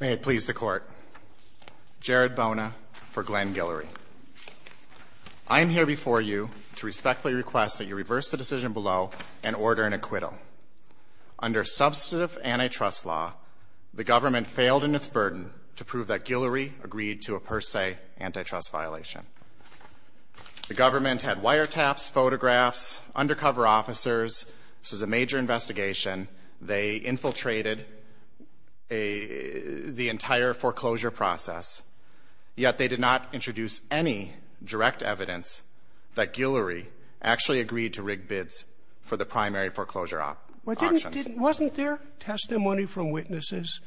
May it please the Court, Jared Bona for Glenn Guillory. I am here before you to respectfully request that you reverse the decision below and order an acquittal. Under substantive antitrust law, the government failed in its burden to prove that Guillory agreed to a per se antitrust violation. The government had wiretaps, photographs, undercover officers. This was a major investigation. They infiltrated the entire foreclosure process, yet they did not introduce any direct evidence that Guillory actually agreed to rig bids for the primary foreclosure auctions. Sotomayor, wasn't there testimony from witnesses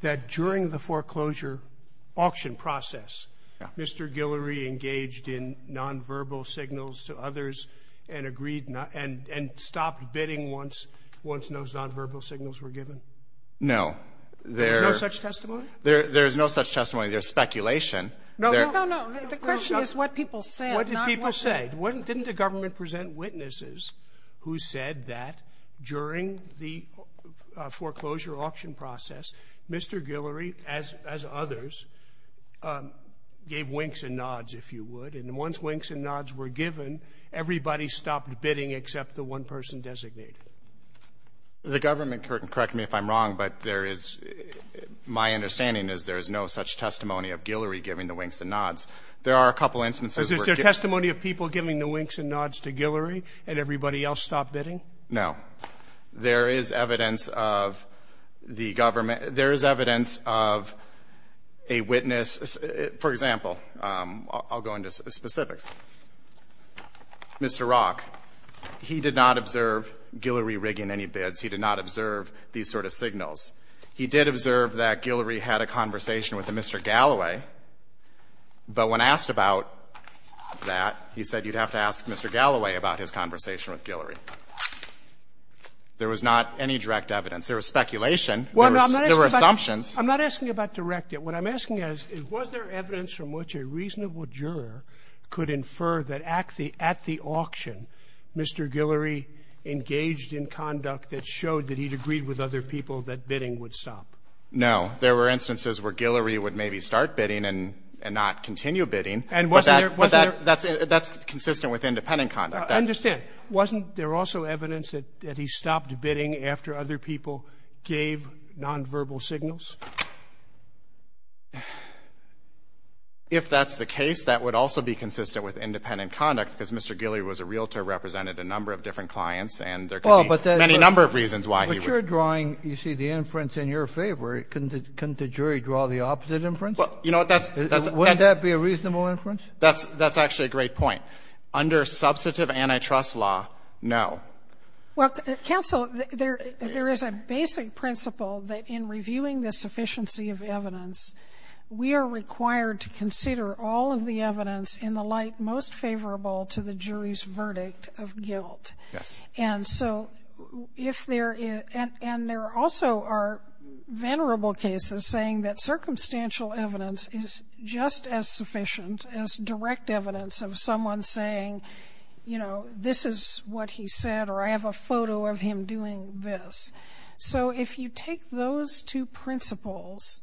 that during the foreclosure auction process, Mr. Guillory engaged in nonverbal signals to others and agreed not to and stopped bidding once those nonverbal signals were given? No. There's no such testimony? There's no such testimony. There's speculation. The question is what people said, not what they said. I'll say, didn't the government present witnesses who said that during the foreclosure auction process, Mr. Guillory, as others, gave winks and nods, if you would, and once winks and nods were given, everybody stopped bidding except the one person designated? The government, correct me if I'm wrong, but there is my understanding is there is no such testimony of Guillory giving the winks and nods. There are a couple instances where he did. Is there testimony of people giving the winks and nods to Guillory and everybody else stopped bidding? No. There is evidence of the government — there is evidence of a witness. For example, I'll go into specifics. Mr. Rock, he did not observe Guillory rigging any bids. He did not observe these sort of signals. He did observe that Guillory had a conversation with Mr. Galloway, but when asked about that, he said you'd have to ask Mr. Galloway about his conversation with Guillory. There was not any direct evidence. There was speculation. There were assumptions. I'm not asking about direct. What I'm asking is, was there evidence from which a reasonable juror could infer that at the auction, Mr. Guillory engaged in conduct that showed that he'd agreed with other people that bidding would stop? No. There were instances where Guillory would maybe start bidding and not continue bidding. And wasn't there — But that's consistent with independent conduct. I understand. Wasn't there also evidence that he stopped bidding after other people gave nonverbal signals? If that's the case, that would also be consistent with independent conduct, because Mr. Guillory was a realtor, represented a number of different clients, and there could be any number of reasons why he would — If you're drawing, you see, the inference in your favor, couldn't the jury draw the opposite inference? Well, you know, that's — Wouldn't that be a reasonable inference? That's actually a great point. Under substantive antitrust law, no. Well, counsel, there is a basic principle that in reviewing the sufficiency of evidence, we are required to consider all of the evidence in the light most favorable to the jury's verdict of guilt. Yes. And so if there is — and there also are venerable cases saying that circumstantial evidence is just as sufficient as direct evidence of someone saying, you know, this is what he said, or I have a photo of him doing this. So if you take those two principles,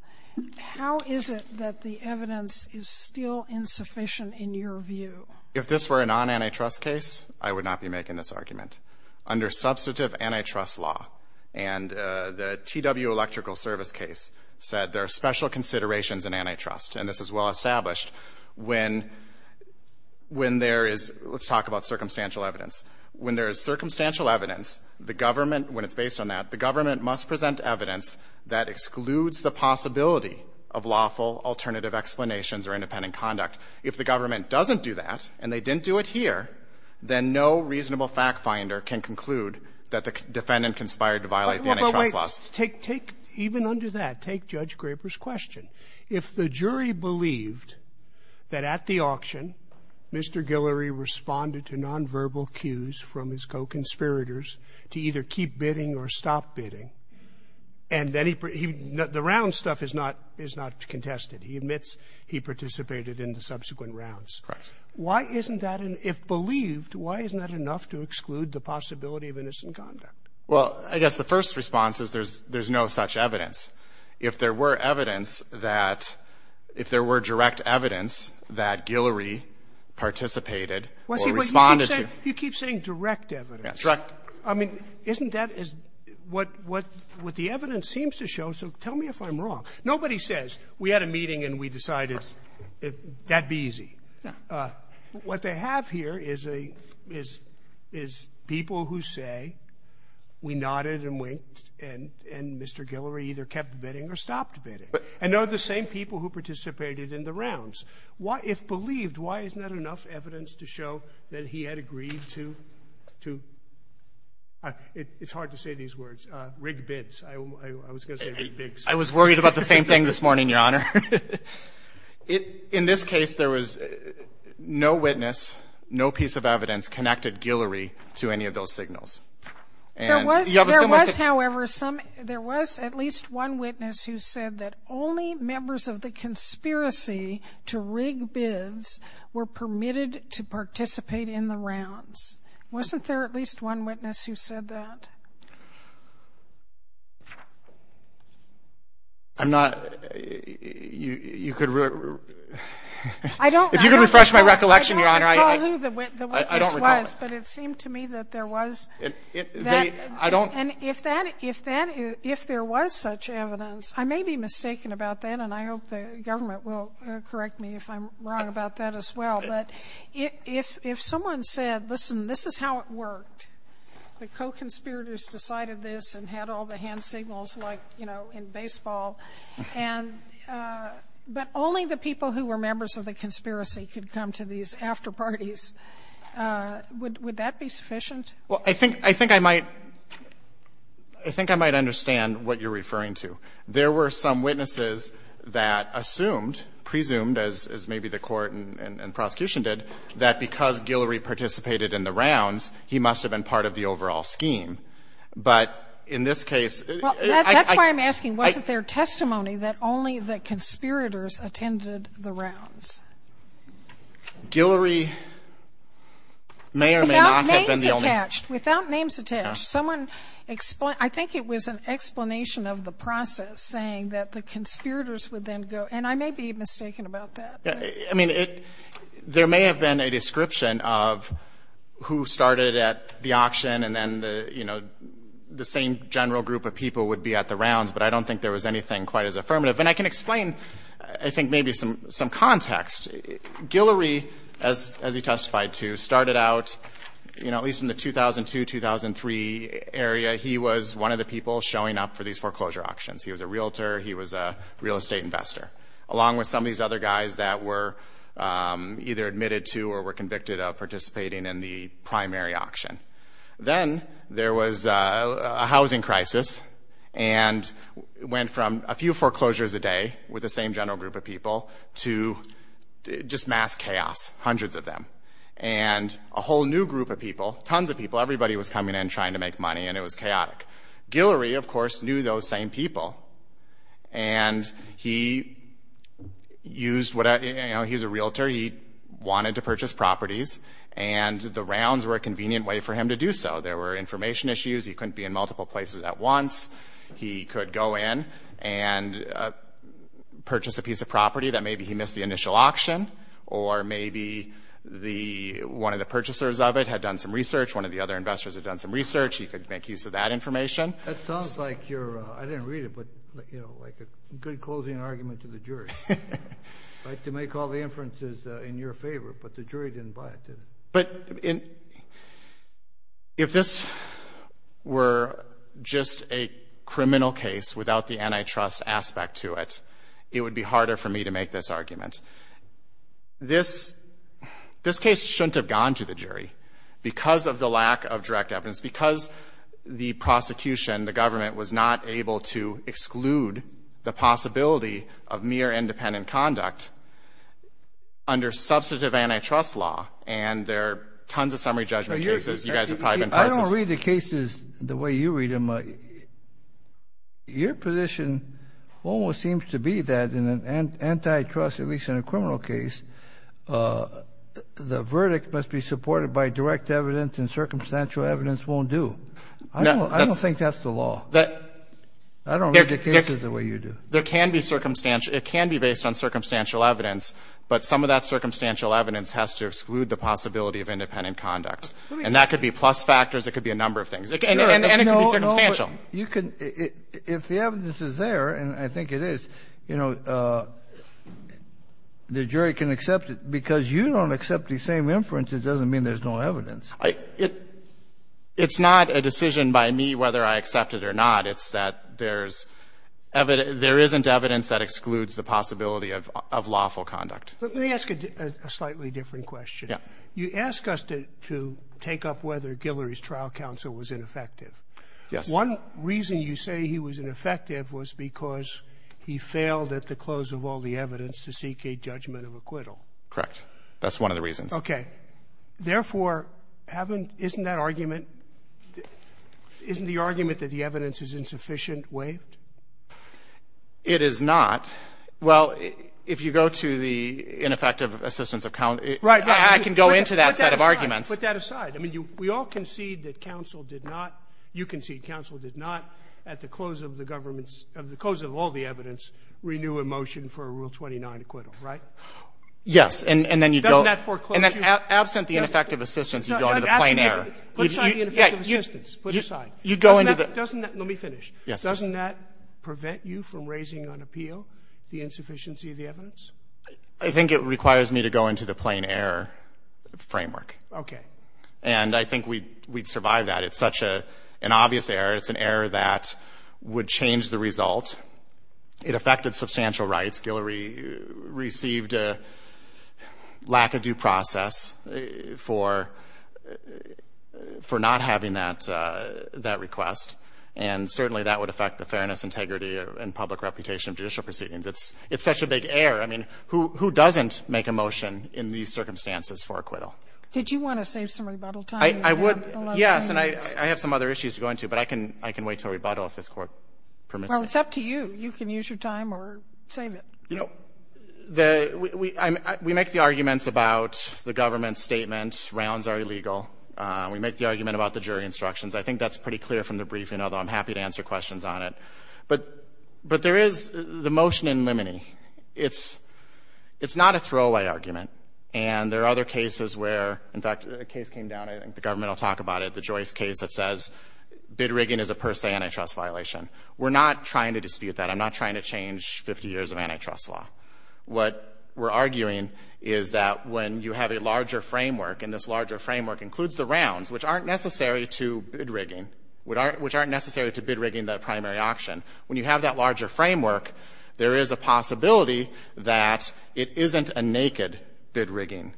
how is it that the evidence is still insufficient in your view? If this were a non-antitrust case, I would not be making this argument. Under substantive antitrust law, and the TW Electrical Service case said there are special considerations in antitrust, and this is well-established. When there is — let's talk about circumstantial evidence. When there is circumstantial evidence, the government — when it's based on that, the government must present evidence that excludes the possibility of lawful alternative explanations or independent conduct. If the government doesn't do that, and they didn't do it here, then no reasonable fact-finder can conclude that the defendant conspired to violate the antitrust laws. Well, wait. Take — take — even under that, take Judge Graber's question. If the jury believed that at the auction, Mr. Guillory responded to nonverbal cues from his co-conspirators to either keep bidding or stop bidding, and then he — he — the round stuff is not — is not contested. He admits he participated in the subsequent rounds. Correct. Why isn't that an — if believed, why isn't that enough to exclude the possibility of innocent conduct? Well, I guess the first response is there's — there's no such evidence. If there were evidence that — if there were direct evidence that Guillory participated or responded to — Well, see, but you keep saying — you keep saying direct evidence. Direct. I mean, isn't that what — what the evidence seems to show? So tell me if I'm wrong. Nobody says, we had a meeting and we decided that'd be easy. No. What they have here is a — is — is people who say, we nodded and winked, and — and Mr. Guillory either kept bidding or stopped bidding. But — And they're the same people who participated in the rounds. Why — if believed, why isn't that enough evidence to show that he had agreed to — to — it's hard to say these words — rigged bids. I was going to say rigged bids. I was worried about the same thing this morning, Your Honor. It — in this case, there was no witness, no piece of evidence connected Guillory to any of those signals. And you have a similar — There was — there was, however, some — there was at least one witness who said that only members of the conspiracy to rig bids were permitted to participate in the rounds. Wasn't there at least one witness who said that? I'm not — you — you could — I don't — If you could refresh my recollection, Your Honor, I — I don't recall who the witness was, but it seemed to me that there was that — They — I don't — And if that — if that — if there was such evidence, I may be mistaken about that, and I hope the government will correct me if I'm wrong about that as well. But if — if someone said, listen, this is how it worked, the co-conspirators decided this and had all the hand signals like, you know, in baseball, and — but only the people who were members of the conspiracy could come to these after-parties, would — would that be sufficient? Well, I think — I think I might — I think I might understand what you're referring to. There were some witnesses that assumed, presumed, as — as maybe the Court and — and prosecution did, that because Guillory participated in the rounds, he must have been part of the overall scheme. But in this case — Well, that's why I'm asking, was it their testimony that only the conspirators attended the rounds? Guillory may or may not have been the only — Without names attached. Without names attached. Someone — I think it was an explanation of the process, saying that the conspirators would then go — and I may be mistaken about that. I mean, it — there may have been a description of who started at the auction and then, you know, the same general group of people would be at the rounds, but I don't think there was anything quite as affirmative. And I can explain, I think, maybe some — some context. Guillory, as — as he testified to, started out, you know, at least in the 2002, 2003 area, he was one of the people showing up for these foreclosure auctions. He was a realtor. He was a real estate investor. Along with some of these other guys that were either admitted to or were convicted of participating in the primary auction. Then there was a housing crisis and it went from a few foreclosures a day with the same general group of people to just mass chaos, hundreds of them. And a whole new group of people, tons of people, everybody was coming in trying to make money and it was chaotic. Guillory, of course, knew those same people. And he used — you know, he's a realtor, he wanted to purchase properties and the rounds were a convenient way for him to do so. There were information issues, he couldn't be in multiple places at once. He could go in and purchase a piece of property that maybe he missed the initial auction. Or maybe the — one of the purchasers of it had done some research, one of the other That sounds like your — I didn't read it, but, you know, like a good closing argument to the jury, right? To make all the inferences in your favor, but the jury didn't buy it, did it? But if this were just a criminal case without the antitrust aspect to it, it would be harder for me to make this argument. This case shouldn't have gone to the jury because of the lack of direct evidence, because the prosecution, the government, was not able to exclude the possibility of mere independent conduct under substantive antitrust law. And there are tons of summary judgment cases you guys have probably been part of. I don't read the cases the way you read them. Your position almost seems to be that in an antitrust, at least in a criminal case, the verdict must be supported by direct evidence and circumstantial evidence won't do. I don't think that's the law. I don't read the cases the way you do. It can be based on circumstantial evidence, but some of that circumstantial evidence has to exclude the possibility of independent conduct. And that could be plus factors, it could be a number of things. And it can be circumstantial. If the evidence is there, and I think it is, you know, the jury can accept it. Because you don't accept the same inference, it doesn't mean there's no evidence. It's not a decision by me whether I accept it or not. It's that there isn't evidence that excludes the possibility of lawful conduct. Let me ask a slightly different question. Yeah. You ask us to take up whether Guillory's trial counsel was ineffective. Yes. One reason you say he was ineffective was because he failed at the close of all the evidence to seek a judgment of acquittal. Correct. That's one of the reasons. Okay. Therefore, isn't that argument, isn't the argument that the evidence is insufficient waived? It is not. Well, if you go to the ineffective assistance of counsel. Right. I can go into that set of arguments. Put that aside. I mean, we all concede that counsel did not, you concede counsel did not, at the close of the government's, at the close of all the evidence, renew a motion for a Rule 29 acquittal, right? Yes. And then you go. Doesn't that foreclose you? Absent the ineffective assistance, you go into the plain error. Put aside the ineffective assistance. Put it aside. Doesn't that, let me finish. Yes. Doesn't that prevent you from raising on appeal the insufficiency of the evidence? I think it requires me to go into the plain error framework. Okay. And I think we'd survive that. It's such an obvious error. It's an error that would change the result. It affected substantial rights. Guillory received a lack of due process for not having that request. And certainly that would affect the fairness, integrity, and public reputation of judicial proceedings. It's such a big error. I mean, who doesn't make a motion in these circumstances for acquittal? Did you want to save some rebuttal time? I would. Yes. And I have some other issues to go into. But I can wait until rebuttal if this Court permits it. Well, it's up to you. You can use your time or save it. You know, we make the arguments about the government's statement, rounds are illegal. We make the argument about the jury instructions. I think that's pretty clear from the briefing, although I'm happy to answer questions on it. But there is the motion in limine. It's not a throwaway argument. And there are other cases where, in fact, a case came down, I think the government will talk about it, the Joyce case that says bid rigging is a per se antitrust violation. We're not trying to dispute that. I'm not trying to change 50 years of antitrust law. What we're arguing is that when you have a larger framework, and this larger framework includes the rounds, which aren't necessary to bid rigging, which aren't necessary to bid rigging the primary auction. When you have that larger framework, there is a possibility that it isn't a bid rigging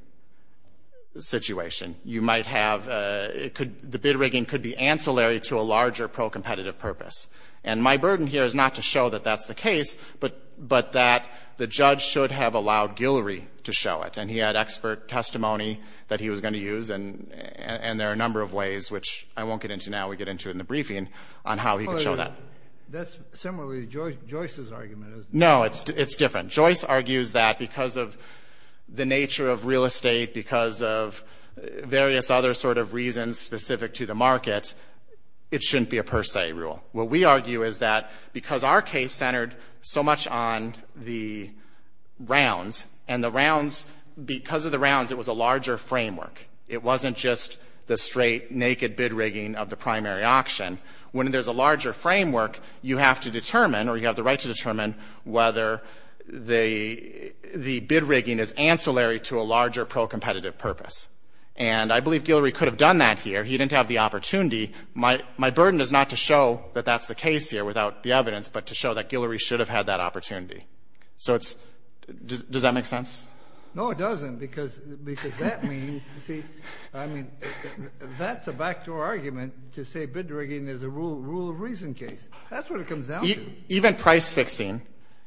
situation. You might have, the bid rigging could be ancillary to a larger pro-competitive purpose. And my burden here is not to show that that's the case, but that the judge should have allowed Guillory to show it. And he had expert testimony that he was going to use. And there are a number of ways, which I won't get into now. We get into it in the briefing on how he could show that. That's similarly Joyce's argument, isn't it? No, it's different. Joyce argues that because of the nature of real estate, because of various other sort of reasons specific to the market, it shouldn't be a per se rule. What we argue is that because our case centered so much on the rounds, and the rounds, because of the rounds, it was a larger framework. It wasn't just the straight, naked bid rigging of the primary auction. When there's a larger framework, you have to determine, or you have the right to say that the bid rigging is ancillary to a larger pro-competitive purpose. And I believe Guillory could have done that here. He didn't have the opportunity. My burden is not to show that that's the case here without the evidence, but to show that Guillory should have had that opportunity. Does that make sense? No, it doesn't. Because that means, see, I mean, that's a backdoor argument to say bid rigging is a rule of reason case. That's what it comes down to. Even price fixing,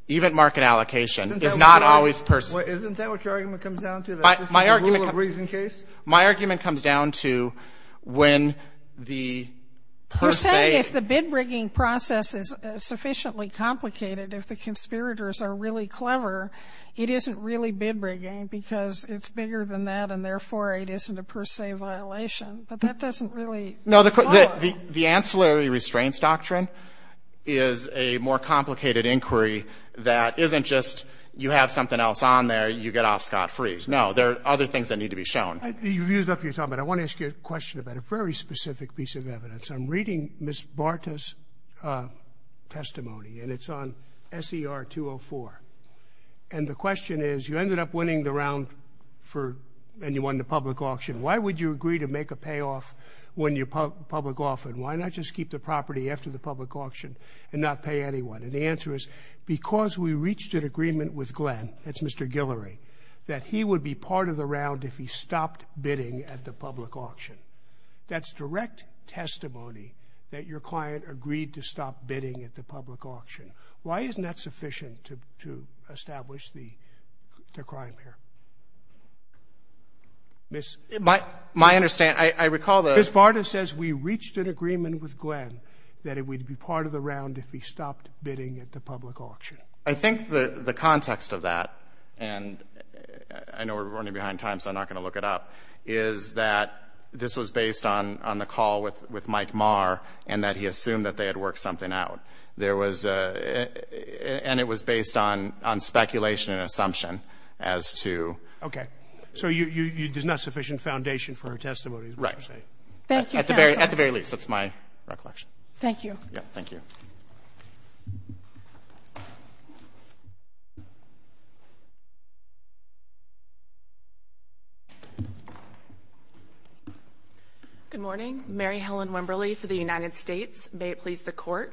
even market allocation is not always per se. Isn't that what your argument comes down to, that this is a rule of reason case? My argument comes down to when the per se... You're saying if the bid rigging process is sufficiently complicated, if the conspirators are really clever, it isn't really bid rigging because it's bigger than that, and therefore it isn't a per se violation. But that doesn't really follow. No, the ancillary restraints doctrine is a more complicated inquiry that isn't just you have something else on there, you get off scot-free. No, there are other things that need to be shown. You've used up your time, but I want to ask you a question about a very specific piece of evidence. I'm reading Ms. Barta's testimony, and it's on SER 204. And the question is, you ended up winning the round for, and you won the public auction. Why would you agree to make a payoff when you public off, and why not just keep the property after the public auction and not pay anyone? And the answer is, because we reached an agreement with Glenn, that's Mr. Guillory, that he would be part of the round if he stopped bidding at the public auction. That's direct testimony that your client agreed to stop bidding at the public auction. Why isn't that sufficient to establish the crime here? Ms. Barta says we reached an agreement with Glenn that it would be part of the round if he stopped bidding at the public auction. I think the context of that, and I know we're running behind time, so I'm not going to look it up, is that this was based on the call with Mike Marr and that he assumed that they had worked something out. There was a, and it was based on speculation and assumption as to. Okay. So there's not sufficient foundation for her testimony, is what you're saying? Thank you, counsel. At the very least, that's my recollection. Thank you. Yeah, thank you. Good morning. Mary Helen Wimberly for the United States. May it please the Court.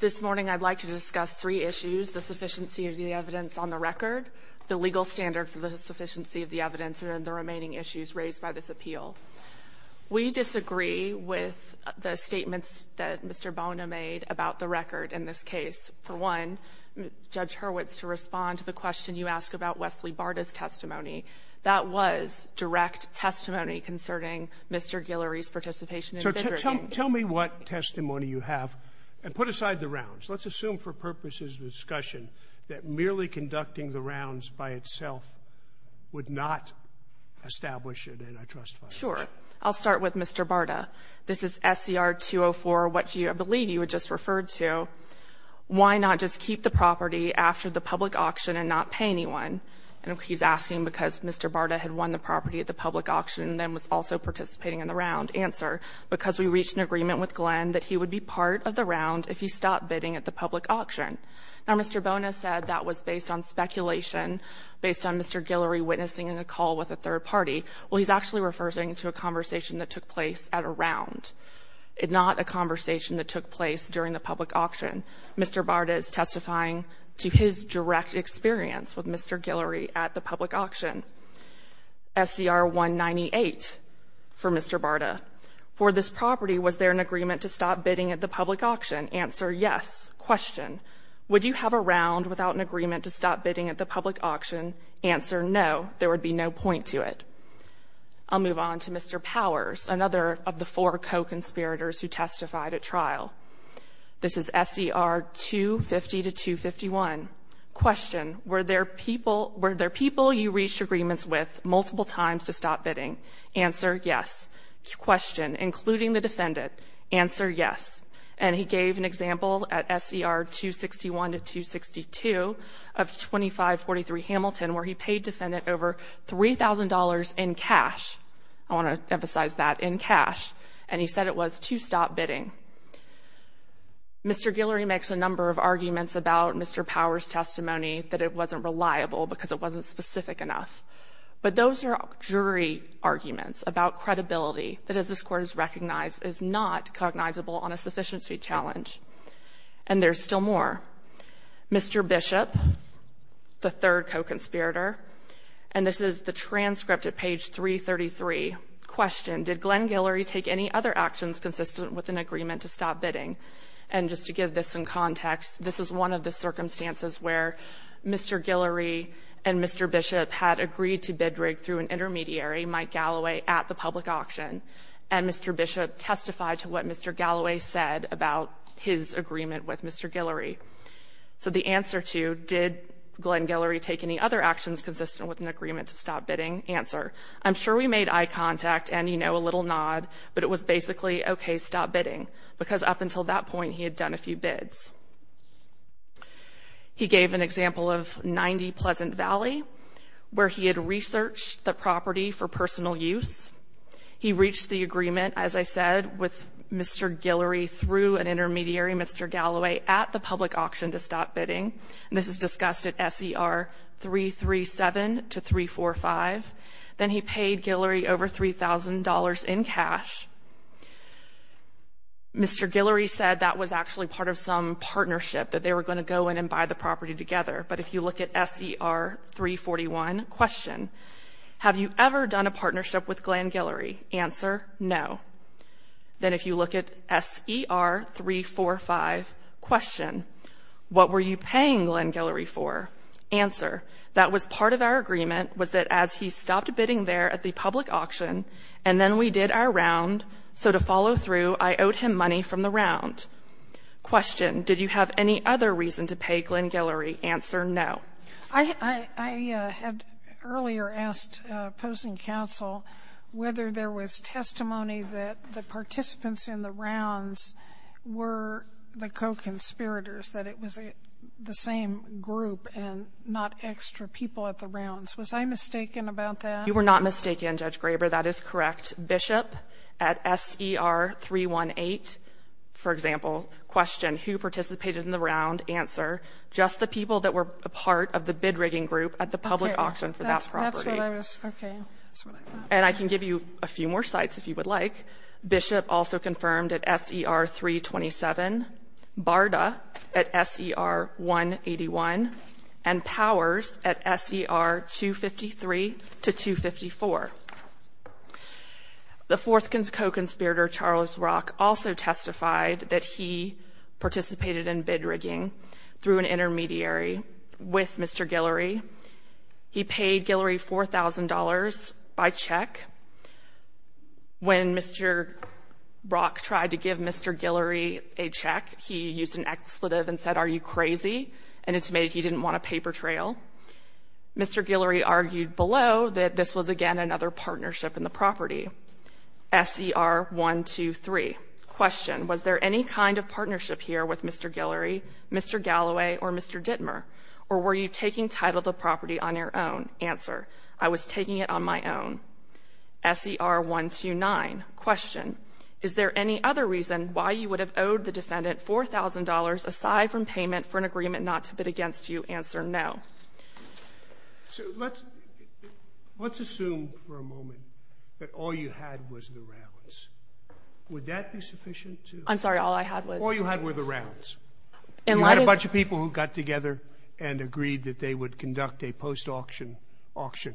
This morning I'd like to discuss three issues, the sufficiency of the evidence on the record, the legal standard for the sufficiency of the evidence, and then the remaining issues raised by this appeal. We disagree with the statements that Mr. Bona made about the record in this case. For one, Judge Hurwitz, to respond to the question you asked about Wesley Barta's testimony, that was direct testimony concerning Mr. Guillory's participation in bidder bidding. So tell me what testimony you have, and put aside the rounds. Let's assume for purposes of discussion that merely conducting the rounds by itself would not establish it, and I trust that. Sure. I'll start with Mr. Barta. This is SCR 204, which I believe you had just referred to. Why not just keep the property after the public auction and not pay anyone? And he's asking because Mr. Barta had won the property at the public auction and then was also participating in the round. Now, Mr. Bona said that was based on speculation, based on Mr. Guillory witnessing a call with a third party. Well, he's actually referring to a conversation that took place at a round, not a conversation that took place during the public auction. Mr. Barta is testifying to his direct experience with Mr. Guillory at the public auction. SCR 198 for Mr. Barta. For this property, was there an agreement to stop bidding at the public auction? Answer, yes. Question, would you have a round without an agreement to stop bidding at the public auction? Answer, no. There would be no point to it. I'll move on to Mr. Powers, another of the four co-conspirators who testified at trial. This is SCR 250 to 251. Question, were there people you reached agreements with multiple times to stop bidding? Answer, yes. Question, including the defendant. Answer, yes. And he gave an example at SCR 261 to 262 of 2543 Hamilton where he paid defendant over $3,000 in cash. I want to emphasize that, in cash. And he said it was to stop bidding. Mr. Guillory makes a number of arguments about Mr. Powers' testimony that it wasn't reliable because it wasn't specific enough. But those are jury arguments about credibility that, as this Court has recognized, is not cognizable on a sufficiency challenge. And there's still more. Mr. Bishop, the third co-conspirator. And this is the transcript at page 333. Question, did Glenn Guillory take any other actions consistent with an agreement to stop bidding? And just to give this some context, this is one of the circumstances where Mr. Guillory and Mr. Bishop had agreed to bid rig through an intermediary, Mike Galloway, at the public auction. And Mr. Bishop testified to what Mr. Galloway said about his agreement with Mr. Guillory. So the answer to, did Glenn Guillory take any other actions consistent with an agreement to stop bidding? Answer, I'm sure we made eye contact and, you know, a little nod. But it was basically, okay, stop bidding. Because up until that point, he had done a few bids. He gave an example of 90 Pleasant Valley, where he had researched the property for personal use. He reached the agreement, as I said, with Mr. Guillory through an intermediary, Mr. Galloway, at the public auction to stop bidding. And this is discussed at SER 337 to 345. Then he paid Guillory over $3,000 in cash. Mr. Guillory said that was actually part of some partnership, that they were going to go in and buy the property together. But if you look at SER 341, question, have you ever done a partnership with Glenn Guillory? Answer, no. Then if you look at SER 345, question, what were you paying Glenn Guillory for? Answer, that was part of our agreement, was that as he stopped bidding there at the public auction, and then we did our round, so to follow through, I owed him money from the round. Question, did you have any other reason to pay Glenn Guillory? Answer, no. I had earlier asked opposing counsel whether there was testimony that the participants in the rounds were the co-conspirators, that it was the same group and not extra people at the rounds. Was I mistaken about that? You were not mistaken, Judge Graber. That is correct. Bishop at SER 318, for example, question, who participated in the round? Answer, just the people that were a part of the bid rigging group at the public auction for that property. And I can give you a few more sites if you would like. Bishop also confirmed at SER 327. Barda at SER 181. And Powers at SER 253 to 254. The fourth co-conspirator, Charles Rock, also testified that he participated in bid rigging through an intermediary with Mr. Guillory. He paid Guillory $4,000 by check. When Mr. Rock tried to give Mr. Guillory a check, he used an expletive and said, are you crazy? And it's made it he didn't want a paper trail. Mr. Guillory argued below that this was, again, another partnership in the property. SER 123, question, was there any kind of partnership here with Mr. Guillory, Mr. Galloway, or Mr. Dittmer? Or were you taking title of the property on your own? Answer, I was taking it on my own. SER 129, question, is there any other reason why you would have owed the payment for an agreement not to bid against you? Answer, no. So let's assume for a moment that all you had was the rounds. Would that be sufficient to... I'm sorry, all I had was... All you had were the rounds. You had a bunch of people who got together and agreed that they would conduct a post-auction auction.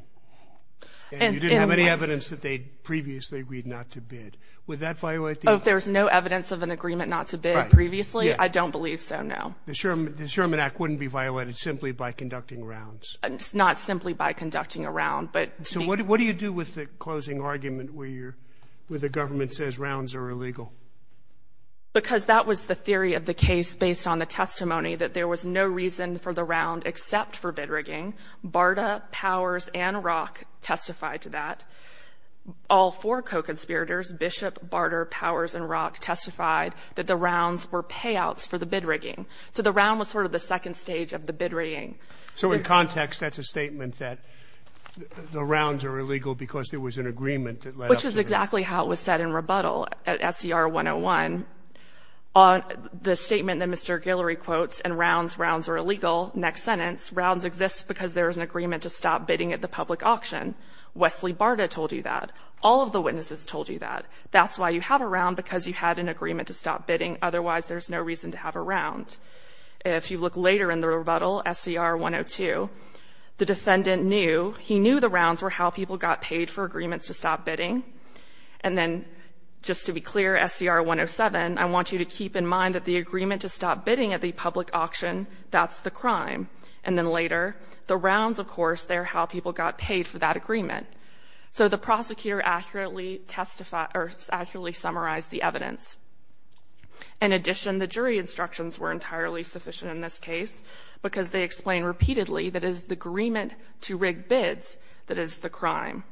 And you didn't have any evidence that they'd previously agreed not to bid. Would that violate the... Oh, if there's no evidence of an agreement not to bid previously, I don't believe so, no. The Sherman Act wouldn't be violated simply by conducting rounds. Not simply by conducting a round, but... So what do you do with the closing argument where you're, where the government says rounds are illegal? Because that was the theory of the case based on the testimony that there was no reason for the round except for bid rigging. Barta, Powers, and Rock testified to that. All four co-conspirators, Bishop, Barta, Powers, and Rock testified that the So the round was sort of the second stage of the bid rigging. So in context, that's a statement that the rounds are illegal because there was an agreement that led up to the... Which is exactly how it was said in rebuttal at SCR 101. The statement that Mr. Guillory quotes, and rounds, rounds are illegal, next sentence, rounds exist because there is an agreement to stop bidding at the public auction. Wesley Barta told you that. All of the witnesses told you that. That's why you have a round, because you had an agreement to stop bidding. Otherwise, there's no reason to have a round. If you look later in the rebuttal, SCR 102, the defendant knew, he knew the rounds were how people got paid for agreements to stop bidding. And then, just to be clear, SCR 107, I want you to keep in mind that the agreement to stop bidding at the public auction, that's the crime. And then later, the rounds, of course, they're how people got paid for that agreement. So the prosecutor accurately testified, or accurately summarized the evidence. In addition, the jury instructions were entirely sufficient in this case, because they explain repeatedly that it is the agreement to rig bids that is the crime.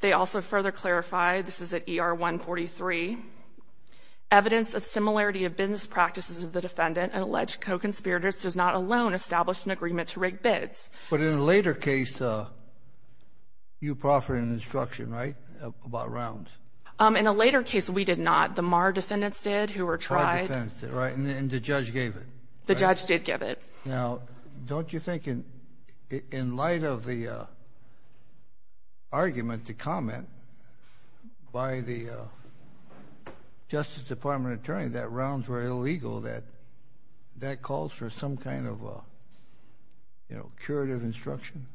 They also further clarify, this is at ER 143, evidence of similarity of business practices of the defendant and alleged co-conspirators does not alone establish an agreement to rig bids. But in a later case, you proffered an instruction, right, about rounds? In a later case, we did not. The Marr defendants did, who were tried. And the judge gave it? The judge did give it. Now, don't you think in light of the argument to comment by the Justice Department attorney that rounds were illegal, that that calls for some kind of curative instruction?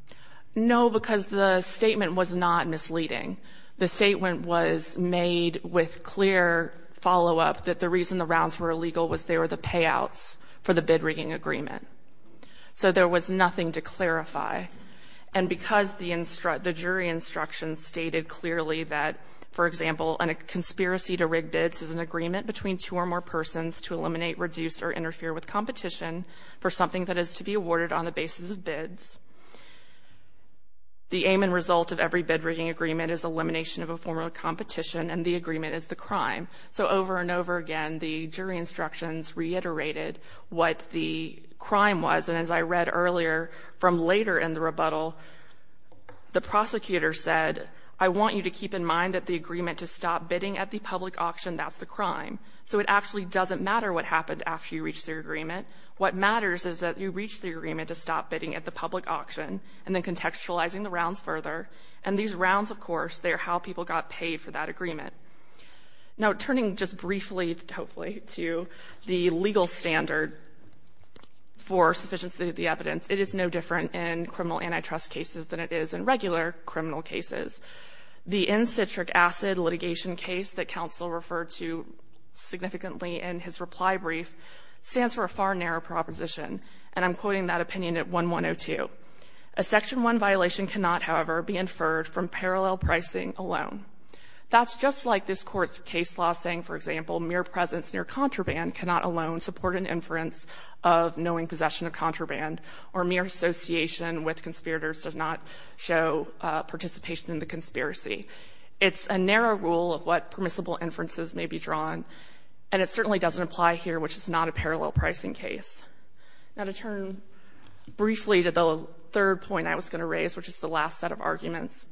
No, because the statement was not misleading. The statement was made with clear follow-up that the reason the rounds were illegal was they were the payouts for the bid rigging agreement. So there was nothing to clarify. And because the jury instructions stated clearly that, for example, a conspiracy to rig bids is an agreement between two or more persons to eliminate, reduce, or interfere with competition for something that is to be awarded on the basis of elimination of a form of competition, and the agreement is the crime. So over and over again, the jury instructions reiterated what the crime was. And as I read earlier, from later in the rebuttal, the prosecutor said, I want you to keep in mind that the agreement to stop bidding at the public auction, that's the crime. So it actually doesn't matter what happened after you reached the agreement. What matters is that you reached the agreement to stop bidding at the public auction, and then contextualizing the rounds further. And these rounds, of course, they're how people got paid for that agreement. Now, turning just briefly, hopefully, to the legal standard for sufficiency of the evidence, it is no different in criminal antitrust cases than it is in regular criminal cases. The N-citric acid litigation case that counsel referred to significantly in his reply brief stands for a far narrower proposition, and I'm quoting that opinion at 1-1-0-2. A Section 1 violation cannot, however, be inferred from parallel pricing alone. That's just like this Court's case law saying, for example, mere presence near contraband cannot alone support an inference of knowing possession of contraband, or mere association with conspirators does not show participation in the conspiracy. It's a narrow rule of what permissible inferences may be drawn, and it certainly doesn't apply here, which is not a parallel pricing case. Now, to turn briefly to the third point I was going to raise, which is the last set of arguments,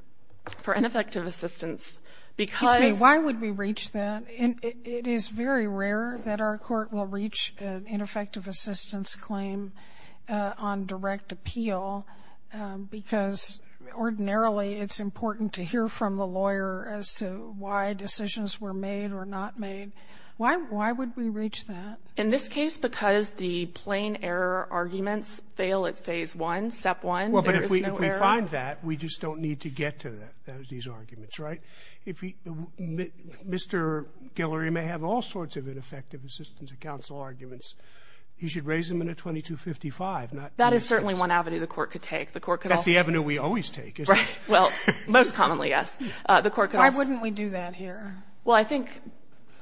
for ineffective assistance, because ---- Sotomayor, why would we reach that? It is very rare that our Court will reach an ineffective assistance claim on direct appeal, because ordinarily it's important to hear from the lawyer as to why decisions were made or not made. Why would we reach that? In this case, because the plain error arguments fail at Phase 1, Step 1, there is no error. Well, but if we find that, we just don't need to get to these arguments, right? If Mr. Guillory may have all sorts of ineffective assistance at counsel arguments, he should raise them in a 2255, not ---- That is certainly one avenue the Court could take. The Court could also ---- That's the avenue we always take, isn't it? Right. Well, most commonly, yes. The Court could also ---- Why wouldn't we do that here? Well, I think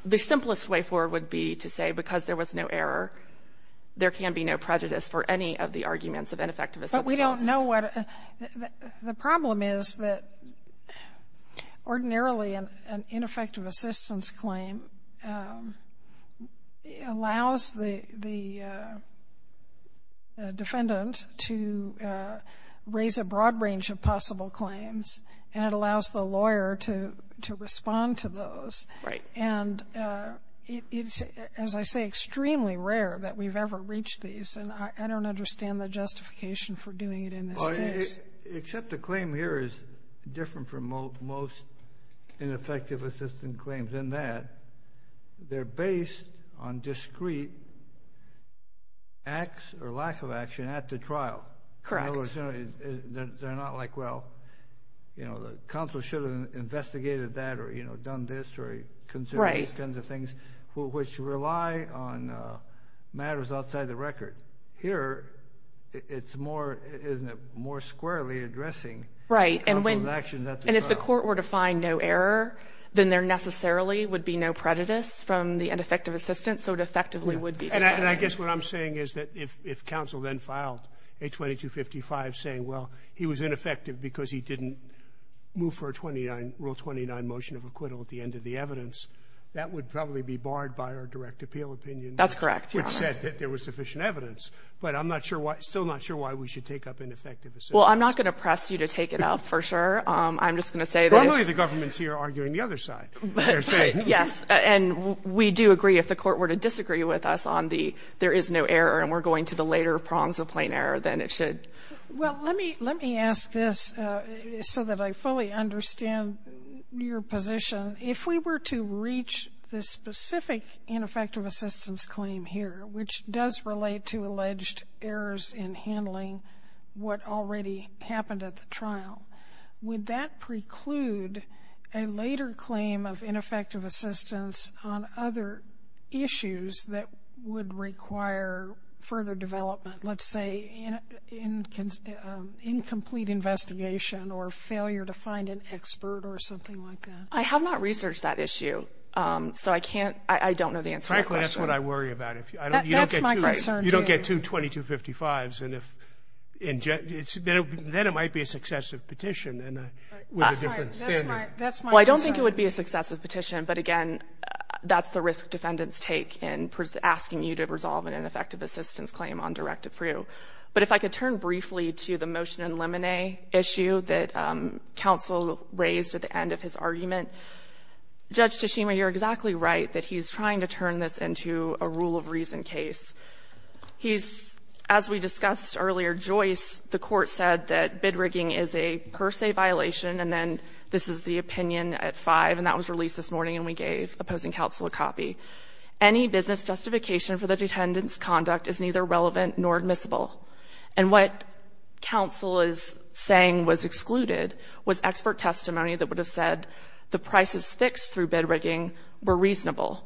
the simplest way forward would be to say because there was no error, there can be no prejudice for any of the arguments of ineffective assistance. But we don't know what ---- the problem is that ordinarily an ineffective assistance claim allows the defendant to raise a broad range of possible claims, and it allows the lawyer to respond to those. Right. And it's, as I say, extremely rare that we've ever reached these. And I don't understand the justification for doing it in this case. Except the claim here is different from most ineffective assistance claims in that they're based on discrete acts or lack of action at the trial. Correct. They're not like, well, you know, the counsel should have investigated that or, you know, done this or considered these kinds of things, which rely on matters outside the record. Here, it's more, isn't it, more squarely addressing the counsel's actions at the trial. Right. And if the Court were to find no error, then there necessarily would be no prejudice from the ineffective assistance. So it effectively would be ---- And I guess what I'm saying is that if counsel then filed a 2255 saying, well, he was ineffective because he didn't move for a Rule 29 motion of acquittal at the end of the evidence, that would probably be barred by our direct appeal opinion. That's correct, Your Honor. Which said that there was sufficient evidence. But I'm not sure why ---- still not sure why we should take up ineffective assistance. Well, I'm not going to press you to take it up for sure. I'm just going to say that ---- Normally the government's here arguing the other side, they're saying. Yes. And we do agree if the Court were to disagree with us on the there is no error and we're going to the later prongs of plain error, then it should. Well, let me ask this so that I fully understand your position. If we were to reach the specific ineffective assistance claim here, which does relate to alleged errors in handling what already happened at the trial, would that preclude a later claim of ineffective assistance on other issues that would require further development, let's say incomplete investigation or failure to find an expert or something like that? I have not researched that issue. So I can't ---- I don't know the answer to that question. Frankly, that's what I worry about. That's my concern, too. You don't get two 2255s. Then it might be a successive petition with a different standard. That's my concern. Well, I don't think it would be a successive petition. But again, that's the risk defendants take in asking you to resolve an ineffective assistance claim on Direct-to-Prue. But if I could turn briefly to the motion in Lemonnet issue that counsel raised at the end of his argument. Judge Tshishima, you're exactly right that he's trying to turn this into a rule of reason case. He's, as we discussed earlier, Joyce, the court said that bid rigging is a per se violation and then this is the opinion at five and that was released this morning and we gave opposing counsel a copy. Any business justification for the detendant's conduct is neither relevant nor admissible. And what counsel is saying was excluded was expert testimony that would have said the prices fixed through bid rigging were reasonable,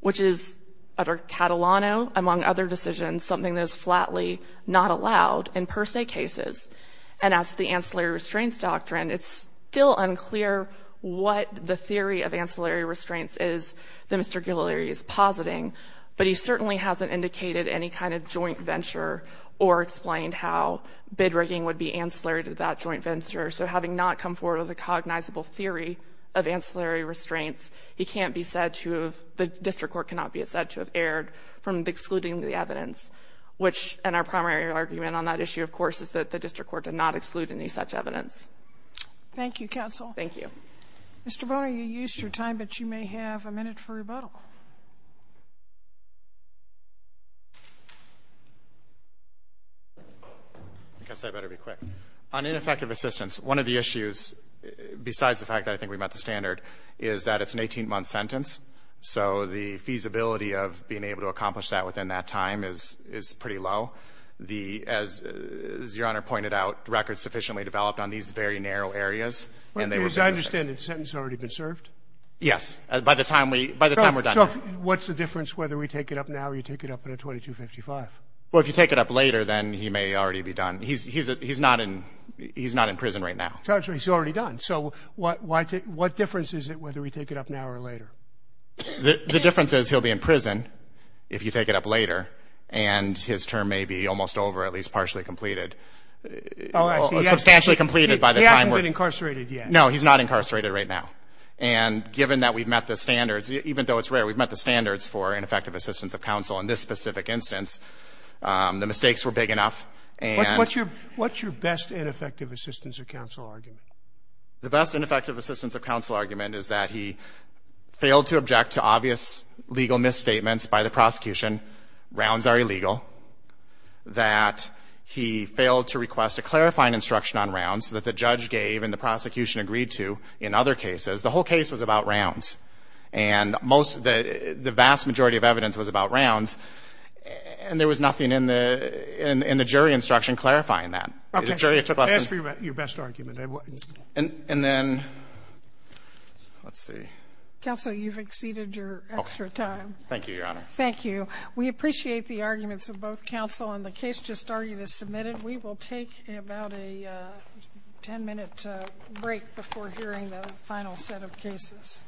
which is under Catalano, among other decisions, something that is flatly not allowed in per se cases. And as to the ancillary restraints doctrine, it's still unclear what the theory of ancillary restraints is that Mr. Guillory is positing. But he certainly hasn't indicated any kind of joint venture or explained how bid rigging would be ancillary to that joint venture. So having not come forward with a cognizable theory of ancillary restraints, he can't be said to have, the district court cannot be said to have erred from excluding the evidence, which in our primary argument on that issue, of course, is that the district court did not exclude any such evidence. Thank you, counsel. Thank you. Mr. Bonner, you used your time, but you may have a minute for rebuttal. I guess I better be quick. On ineffective assistance, one of the issues, besides the fact that I think we met the standard, is that it's an 18-month sentence. So the feasibility of being able to accomplish that within that time is pretty low. As Your Honor pointed out, records sufficiently developed on these very narrow areas. As I understand it, the sentence has already been served? Yes. By the time we're done here. So what's the difference whether we take it up now or you take it up in a 2255? Well, if you take it up later, then he may already be done. He's not in prison right now. He's already done. So what difference is it whether we take it up now or later? The difference is he'll be in prison if you take it up later. And his term may be almost over, at least partially completed. Substantially completed by the time we're... He hasn't been incarcerated yet. No, he's not incarcerated right now. And given that we've met the standards, even though it's rare, we've met the standards for ineffective assistance of counsel. In this specific instance, the mistakes were big enough. What's your best ineffective assistance of counsel argument? The best ineffective assistance of counsel argument is that he failed to object to obvious legal misstatements by the prosecution. Rounds are illegal. That he failed to request a clarifying instruction on rounds that the judge gave and the prosecution agreed to in other cases. The whole case was about rounds. And the vast majority of evidence was about rounds. And there was nothing in the jury instruction clarifying that. Okay. As for your best argument... And then... Let's see. Counsel, you've exceeded your extra time. Thank you, Your Honor. Thank you. We appreciate the arguments of both counsel. And the case just argued is submitted. We will take about a 10-minute break before hearing the final set of cases.